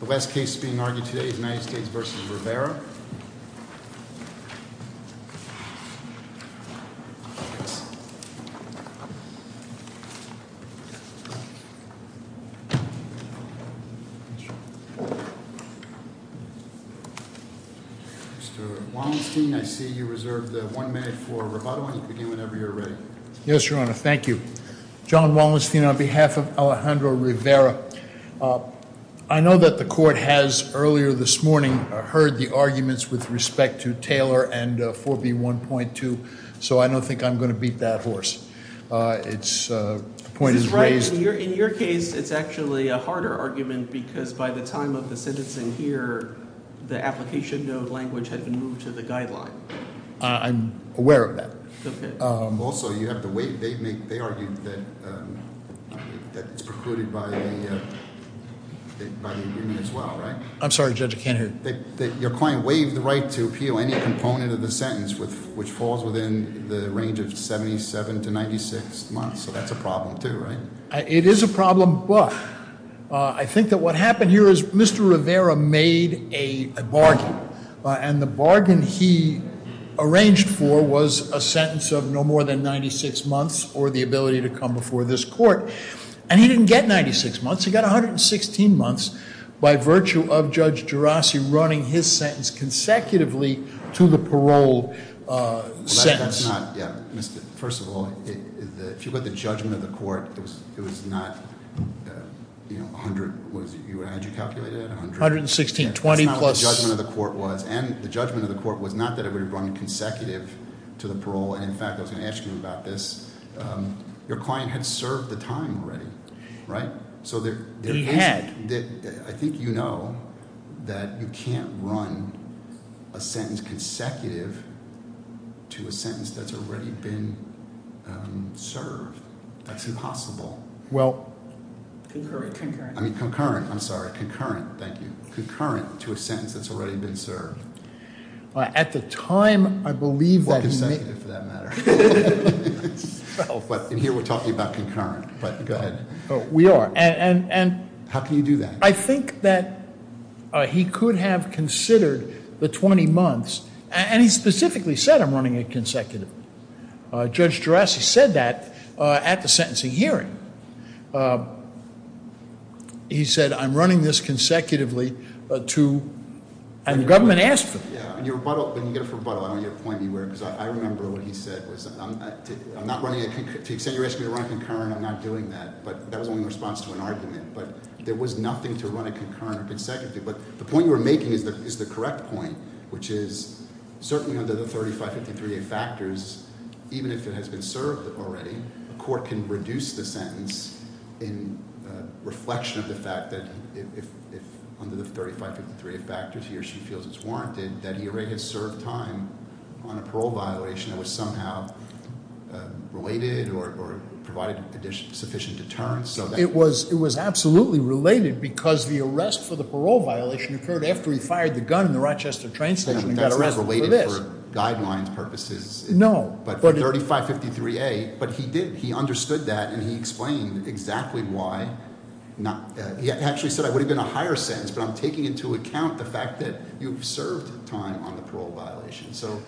Mr. Wallenstein, I see you reserved one minute for rebuttal. You can begin whenever you're ready. Yes, Your Honor. Thank you. John Wallenstein, on behalf of Alejandro Rivera, I know that the court has, earlier this morning, heard the arguments with respect to Taylor and 4B1.2, so I don't think I'm going to beat that horse. The point is raised. This is right. In your case, it's actually a harder argument because by the time of the sentencing here, the application note language had been moved to the guideline. I'm aware of that. Also, you have to wait. They argued that it's precluded by the agreement as well, right? I'm sorry, Judge, I can't hear you. Your client waived the right to appeal any component of the sentence which falls within the range of 77 to 96 months, so that's a problem too, right? It is a problem, but I think that what happened here is Mr. Rivera made a bargain, and the bargain he arranged for was a sentence of no more than 96 months or the ability to come before this court, and he didn't get 96 months. He got 116 months by virtue of Judge Gerasi running his sentence consecutively to the parole sentence. That's not, yeah. First of all, if you look at the judgment of the court, it was not 100. Had you calculated it? 116, 20 plus- That's not what the judgment of the court was, and the judgment of the court was not that it would run consecutive to the parole, and in fact, I was going to ask you about this. Your client had served the time already, right? He had. I think you know that you can't run a sentence consecutive to a sentence that's already been served. That's impossible. Well- Concurrent. I mean, concurrent. I'm sorry. Concurrent, thank you. Concurrent to a sentence that's already been served. At the time, I believe that- Or consecutive, for that matter. But in here, we're talking about concurrent, but go ahead. We are, and- How can you do that? I think that he could have considered the 20 months, and he specifically said, I'm running it consecutively. Judge Gerasi said that at the sentencing hearing. He said, I'm running this consecutively to- And the government asked for it. When you get a rebuttal, I want you to point me where, because I remember what he said was, I'm not running a- To the extent you're asking me to run a concurrent, I'm not doing that. But that was only in response to an argument. But there was nothing to run a concurrent or consecutive. But the point you were making is the correct point, which is certainly under the 3553A factors, even if it has been served already, a court can reduce the sentence in reflection of the fact that if under the 3553A factors he or she feels it's warranted, that he or she has served time on a parole violation that was somehow related or provided sufficient deterrence. It was absolutely related because the arrest for the parole violation occurred after he fired the gun in the Rochester train station and got arrested for this. That's not related for guidelines purposes. No. But 3553A. But he did. He understood that, and he explained exactly why. He actually said I would have been a higher sentence, but I'm taking into account the fact that you've served time on the parole violation. So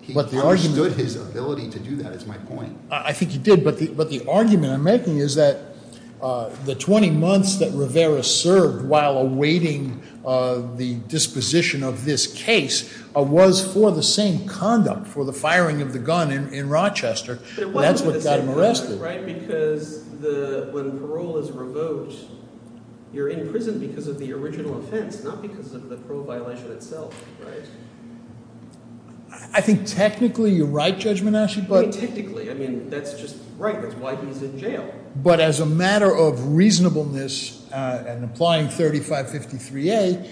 he understood his ability to do that, is my point. I think he did, but the argument I'm making is that the 20 months that Rivera served while awaiting the disposition of this case was for the same conduct, for the firing of the gun in Rochester. But it wasn't for the same conduct, right? When parole is revoked, you're in prison because of the original offense, not because of the parole violation itself, right? I think technically you're right, Judge Menachie. Technically, I mean, that's just right. That's why he's in jail. But as a matter of reasonableness and applying 3553A,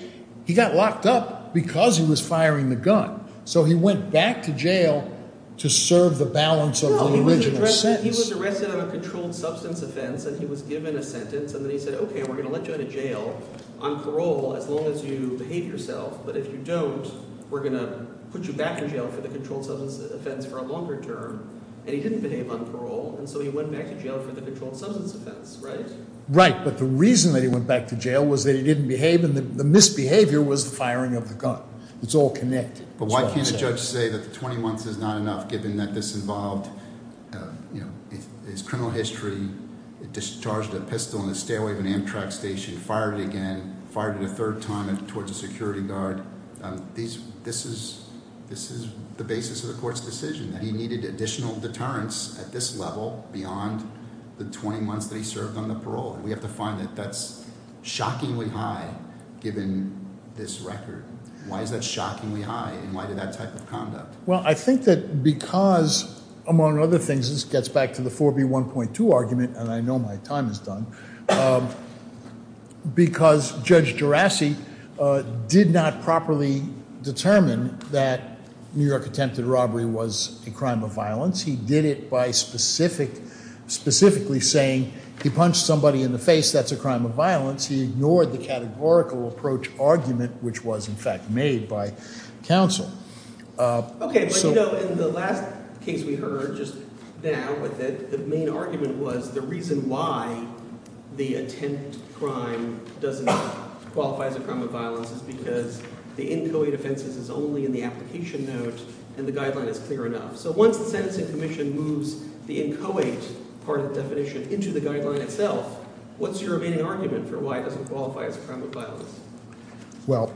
he got locked up because he was firing the gun. So he went back to jail to serve the balance of the original sentence. He was arrested on a controlled substance offense, and he was given a sentence, and then he said, okay, we're going to let you out of jail on parole as long as you behave yourself. But if you don't, we're going to put you back in jail for the controlled substance offense for a longer term. And he didn't behave on parole, and so he went back to jail for the controlled substance offense, right? Right, but the reason that he went back to jail was that he didn't behave, and the misbehavior was the firing of the gun. It's all connected. But why can't a judge say that the 20 months is not enough given that this involved his criminal history, discharged a pistol in the stairway of an Amtrak station, fired it again, fired it a third time towards a security guard? This is the basis of the court's decision, that he needed additional deterrence at this level beyond the 20 months that he served on the parole. We have to find that that's shockingly high given this record. Why is that shockingly high, and why did that type of conduct? Well, I think that because, among other things, this gets back to the 4B1.2 argument, and I know my time is done. Because Judge Gerasi did not properly determine that New York attempted robbery was a crime of violence. He did it by specifically saying he punched somebody in the face, that's a crime of violence. He ignored the categorical approach argument, which was, in fact, made by counsel. Okay, but in the last case we heard just now, the main argument was the reason why the attempt crime doesn't qualify as a crime of violence is because the in co-ed offenses is only in the application note and the guideline is clear enough. So once the sentencing commission moves the in co-ed part of the definition into the guideline itself, what's your remaining argument for why it doesn't qualify as a crime of violence? Well,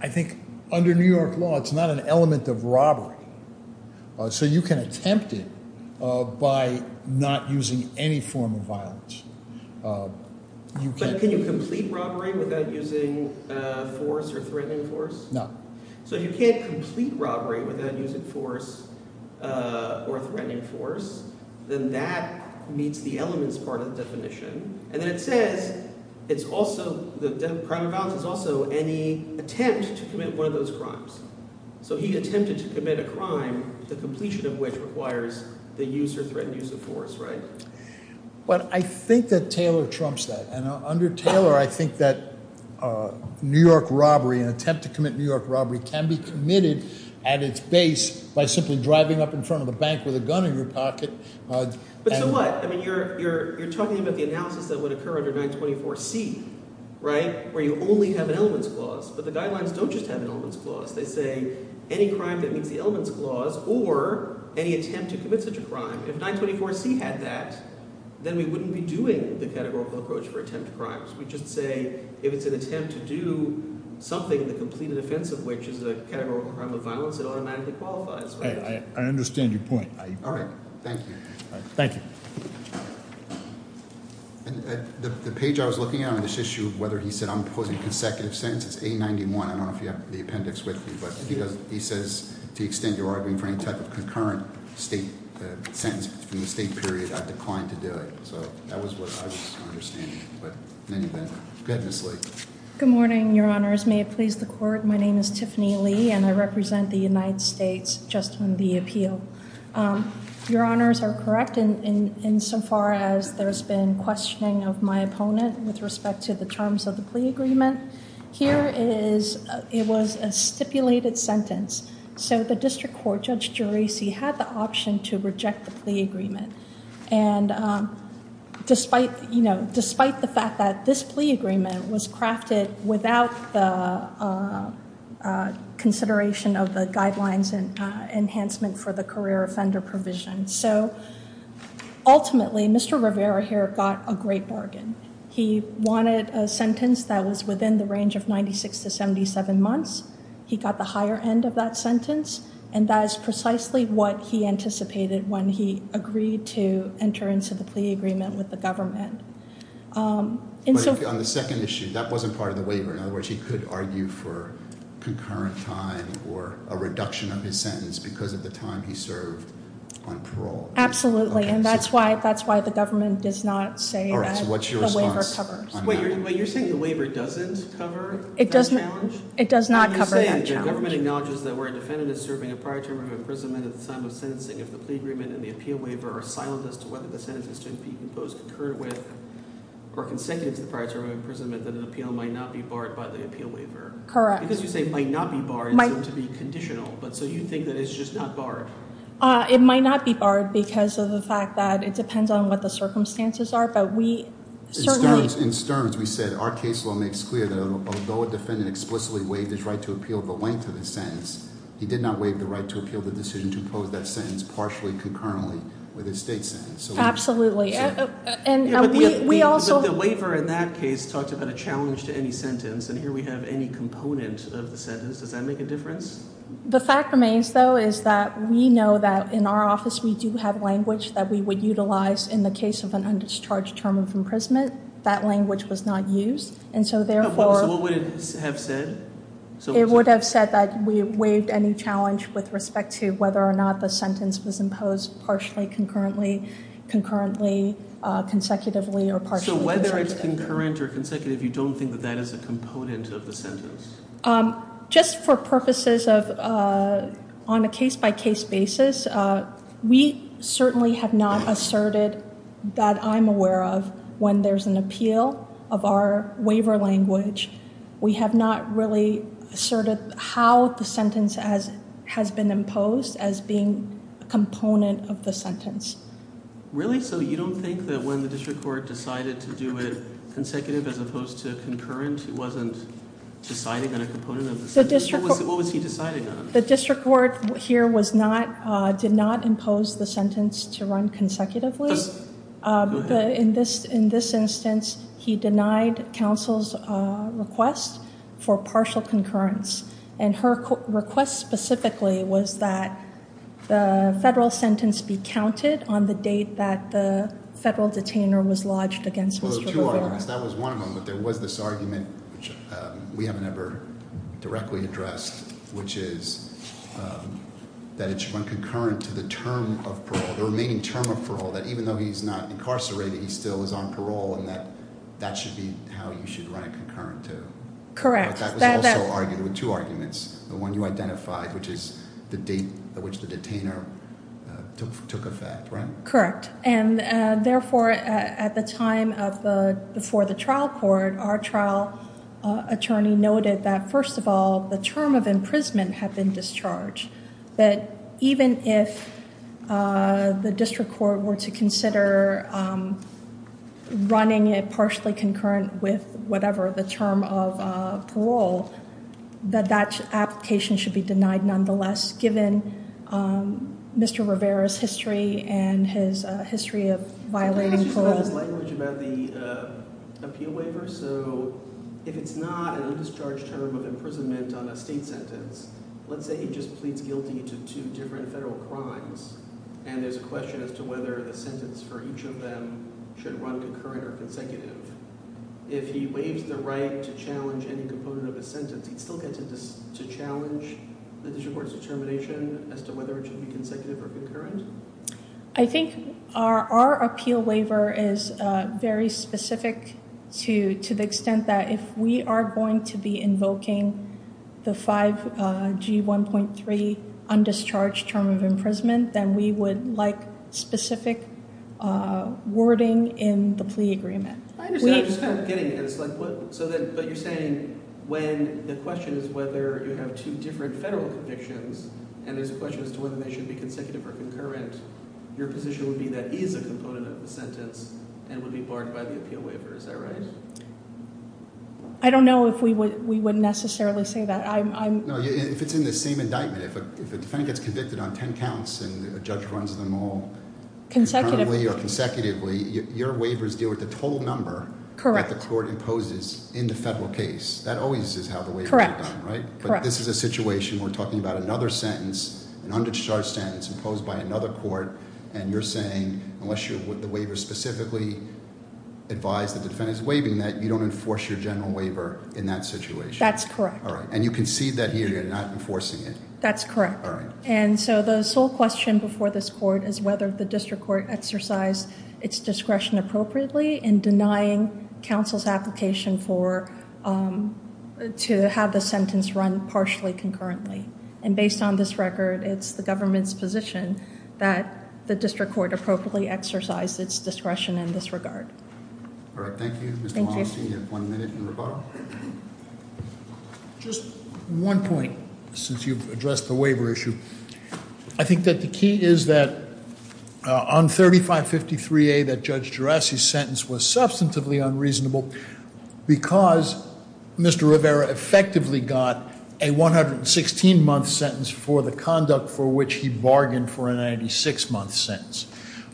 I think under New York law it's not an element of robbery. So you can attempt it by not using any form of violence. But can you complete robbery without using force or threatening force? No. So if you can't complete robbery without using force or threatening force, then that meets the elements part of the definition. And then it says it's also the crime of violence is also any attempt to commit one of those crimes. So he attempted to commit a crime, the completion of which requires the use or threatened use of force, right? But I think that Taylor trumps that. And under Taylor I think that New York robbery, an attempt to commit New York robbery, can be committed at its base by simply driving up in front of the bank with a gun in your pocket. But so what? I mean you're talking about the analysis that would occur under 924C, right, where you only have an elements clause. But the guidelines don't just have an elements clause. They say any crime that meets the elements clause or any attempt to commit such a crime. If 924C had that, then we wouldn't be doing the categorical approach for attempt crimes. We'd just say if it's an attempt to do something in the completed offense of which is a categorical crime of violence, it automatically qualifies. I understand your point. All right. Thank you. Thank you. The page I was looking at on this issue, whether he said I'm posing consecutive sentences, 891. I don't know if you have the appendix with you. But he says to the extent you're arguing for any type of concurrent state sentence from the state period, I've declined to do it. So that was what I was understanding. But in any event, go ahead, Ms. Lee. Good morning, Your Honors. May it please the Court. My name is Tiffany Lee, and I represent the United States just on the appeal. Your Honors are correct insofar as there's been questioning of my opponent with respect to the terms of the plea agreement. Here it was a stipulated sentence. So the district court, Judge Geraci, had the option to reject the plea agreement. And despite, you know, despite the fact that this plea agreement was crafted without the consideration of the guidelines and enhancement for the career offender provision. So ultimately, Mr. Rivera here got a great bargain. He wanted a sentence that was within the range of 96 to 77 months. He got the higher end of that sentence. And that is precisely what he anticipated when he agreed to enter into the plea agreement with the government. But on the second issue, that wasn't part of the waiver. In other words, he could argue for concurrent time or a reduction of his sentence because of the time he served on parole. Absolutely, and that's why the government does not say that the waiver covers. All right, so what's your response on that? Wait, you're saying the waiver doesn't cover that challenge? It does not cover that challenge. The government acknowledges that where a defendant is serving a prior term of imprisonment at the time of sentencing, if the plea agreement and the appeal waiver are silent as to whether the sentence is to be imposed concurrent with or consecutive to the prior term of imprisonment, that an appeal might not be barred by the appeal waiver. Correct. Because you say it might not be barred. It's going to be conditional. But so you think that it's just not barred? It might not be barred because of the fact that it depends on what the circumstances are. In Stearns, we said our case law makes clear that although a defendant explicitly waived his right to appeal the length of the sentence, he did not waive the right to appeal the decision to impose that sentence partially concurrently with his state sentence. Absolutely. But the waiver in that case talked about a challenge to any sentence, and here we have any component of the sentence. Does that make a difference? The fact remains, though, is that we know that in our office we do have language that we would utilize in the case of an undischarged term of imprisonment. That language was not used. And so therefore— So what would it have said? It would have said that we waived any challenge with respect to whether or not the sentence was imposed partially concurrently, concurrently, consecutively, or partially— So whether it's concurrent or consecutive, you don't think that that is a component of the sentence? Just for purposes of on a case-by-case basis, we certainly have not asserted that I'm aware of when there's an appeal of our waiver language. We have not really asserted how the sentence has been imposed as being a component of the sentence. Really? So you don't think that when the district court decided to do it consecutive as opposed to concurrent, it wasn't deciding on a component of the sentence? What was he deciding on? The district court here did not impose the sentence to run consecutively. In this instance, he denied counsel's request for partial concurrence. And her request specifically was that the federal sentence be counted on the date that the federal detainer was lodged against Mr. Farrar. Well, there were two arguments. That was one of them. But there was this argument, which we haven't ever directly addressed, which is that it should run concurrent to the term of parole, the remaining term of parole, that even though he's not incarcerated, he still is on parole, and that that should be how you should run it concurrent to— Correct. But that was also argued—there were two arguments. The one you identified, which is the date at which the detainer took effect, right? Correct. And therefore, at the time before the trial court, our trial attorney noted that, first of all, the term of imprisonment had been discharged, that even if the district court were to consider running it partially concurrent with whatever, the term of parole, that that application should be denied nonetheless, given Mr. Rivera's history and his history of violating parole. You talked about his language about the appeal waiver. So if it's not an undischarged term of imprisonment on a state sentence, let's say he just pleads guilty to two different federal crimes, and there's a question as to whether the sentence for each of them should run concurrent or consecutive. If he waives the right to challenge any component of a sentence, he'd still get to challenge the district court's determination as to whether it should be consecutive or concurrent? I think our appeal waiver is very specific to the extent that if we are going to be invoking the 5G1.3 undischarged term of imprisonment, then we would like specific wording in the plea agreement. I understand. I'm just kind of getting it. But you're saying when the question is whether you have two different federal convictions, and there's a question as to whether they should be consecutive or concurrent, your position would be that is a component of the sentence and would be barred by the appeal waiver. Is that right? I don't know if we would necessarily say that. No, if it's in the same indictment, if a defendant gets convicted on ten counts and a judge runs them all— Consecutively. —currently or consecutively, your waivers deal with the total number— —that the court imposes in the federal case. That always is how the waivers are done, right? Correct. But this is a situation where we're talking about another sentence, an undischarged sentence imposed by another court, and you're saying unless the waiver specifically advised the defendant's waiving that, you don't enforce your general waiver in that situation. That's correct. All right. And you concede that here, you're not enforcing it. That's correct. All right. And so the sole question before this court is whether the district court exercised its discretion appropriately in denying counsel's application for—to have the sentence run partially concurrently. And based on this record, it's the government's position that the district court appropriately exercised its discretion in this regard. All right. Thank you. Thank you. Mr. Malmsteen, you have one minute in rebuttal. Just one point, since you've addressed the waiver issue. I think that the key is that on 3553A, that Judge Gerasi's sentence was substantively unreasonable because Mr. Rivera effectively got a 116-month sentence for the conduct for which he bargained for a 96-month sentence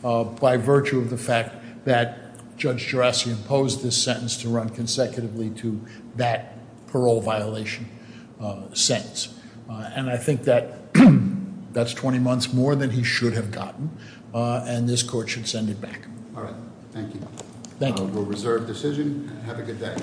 by virtue of the fact that Judge Gerasi imposed this sentence to run consecutively to that parole violation sentence. And I think that that's 20 months more than he should have gotten. And this court should send it back. All right. Thank you. Thank you. We'll reserve decision and have a good day.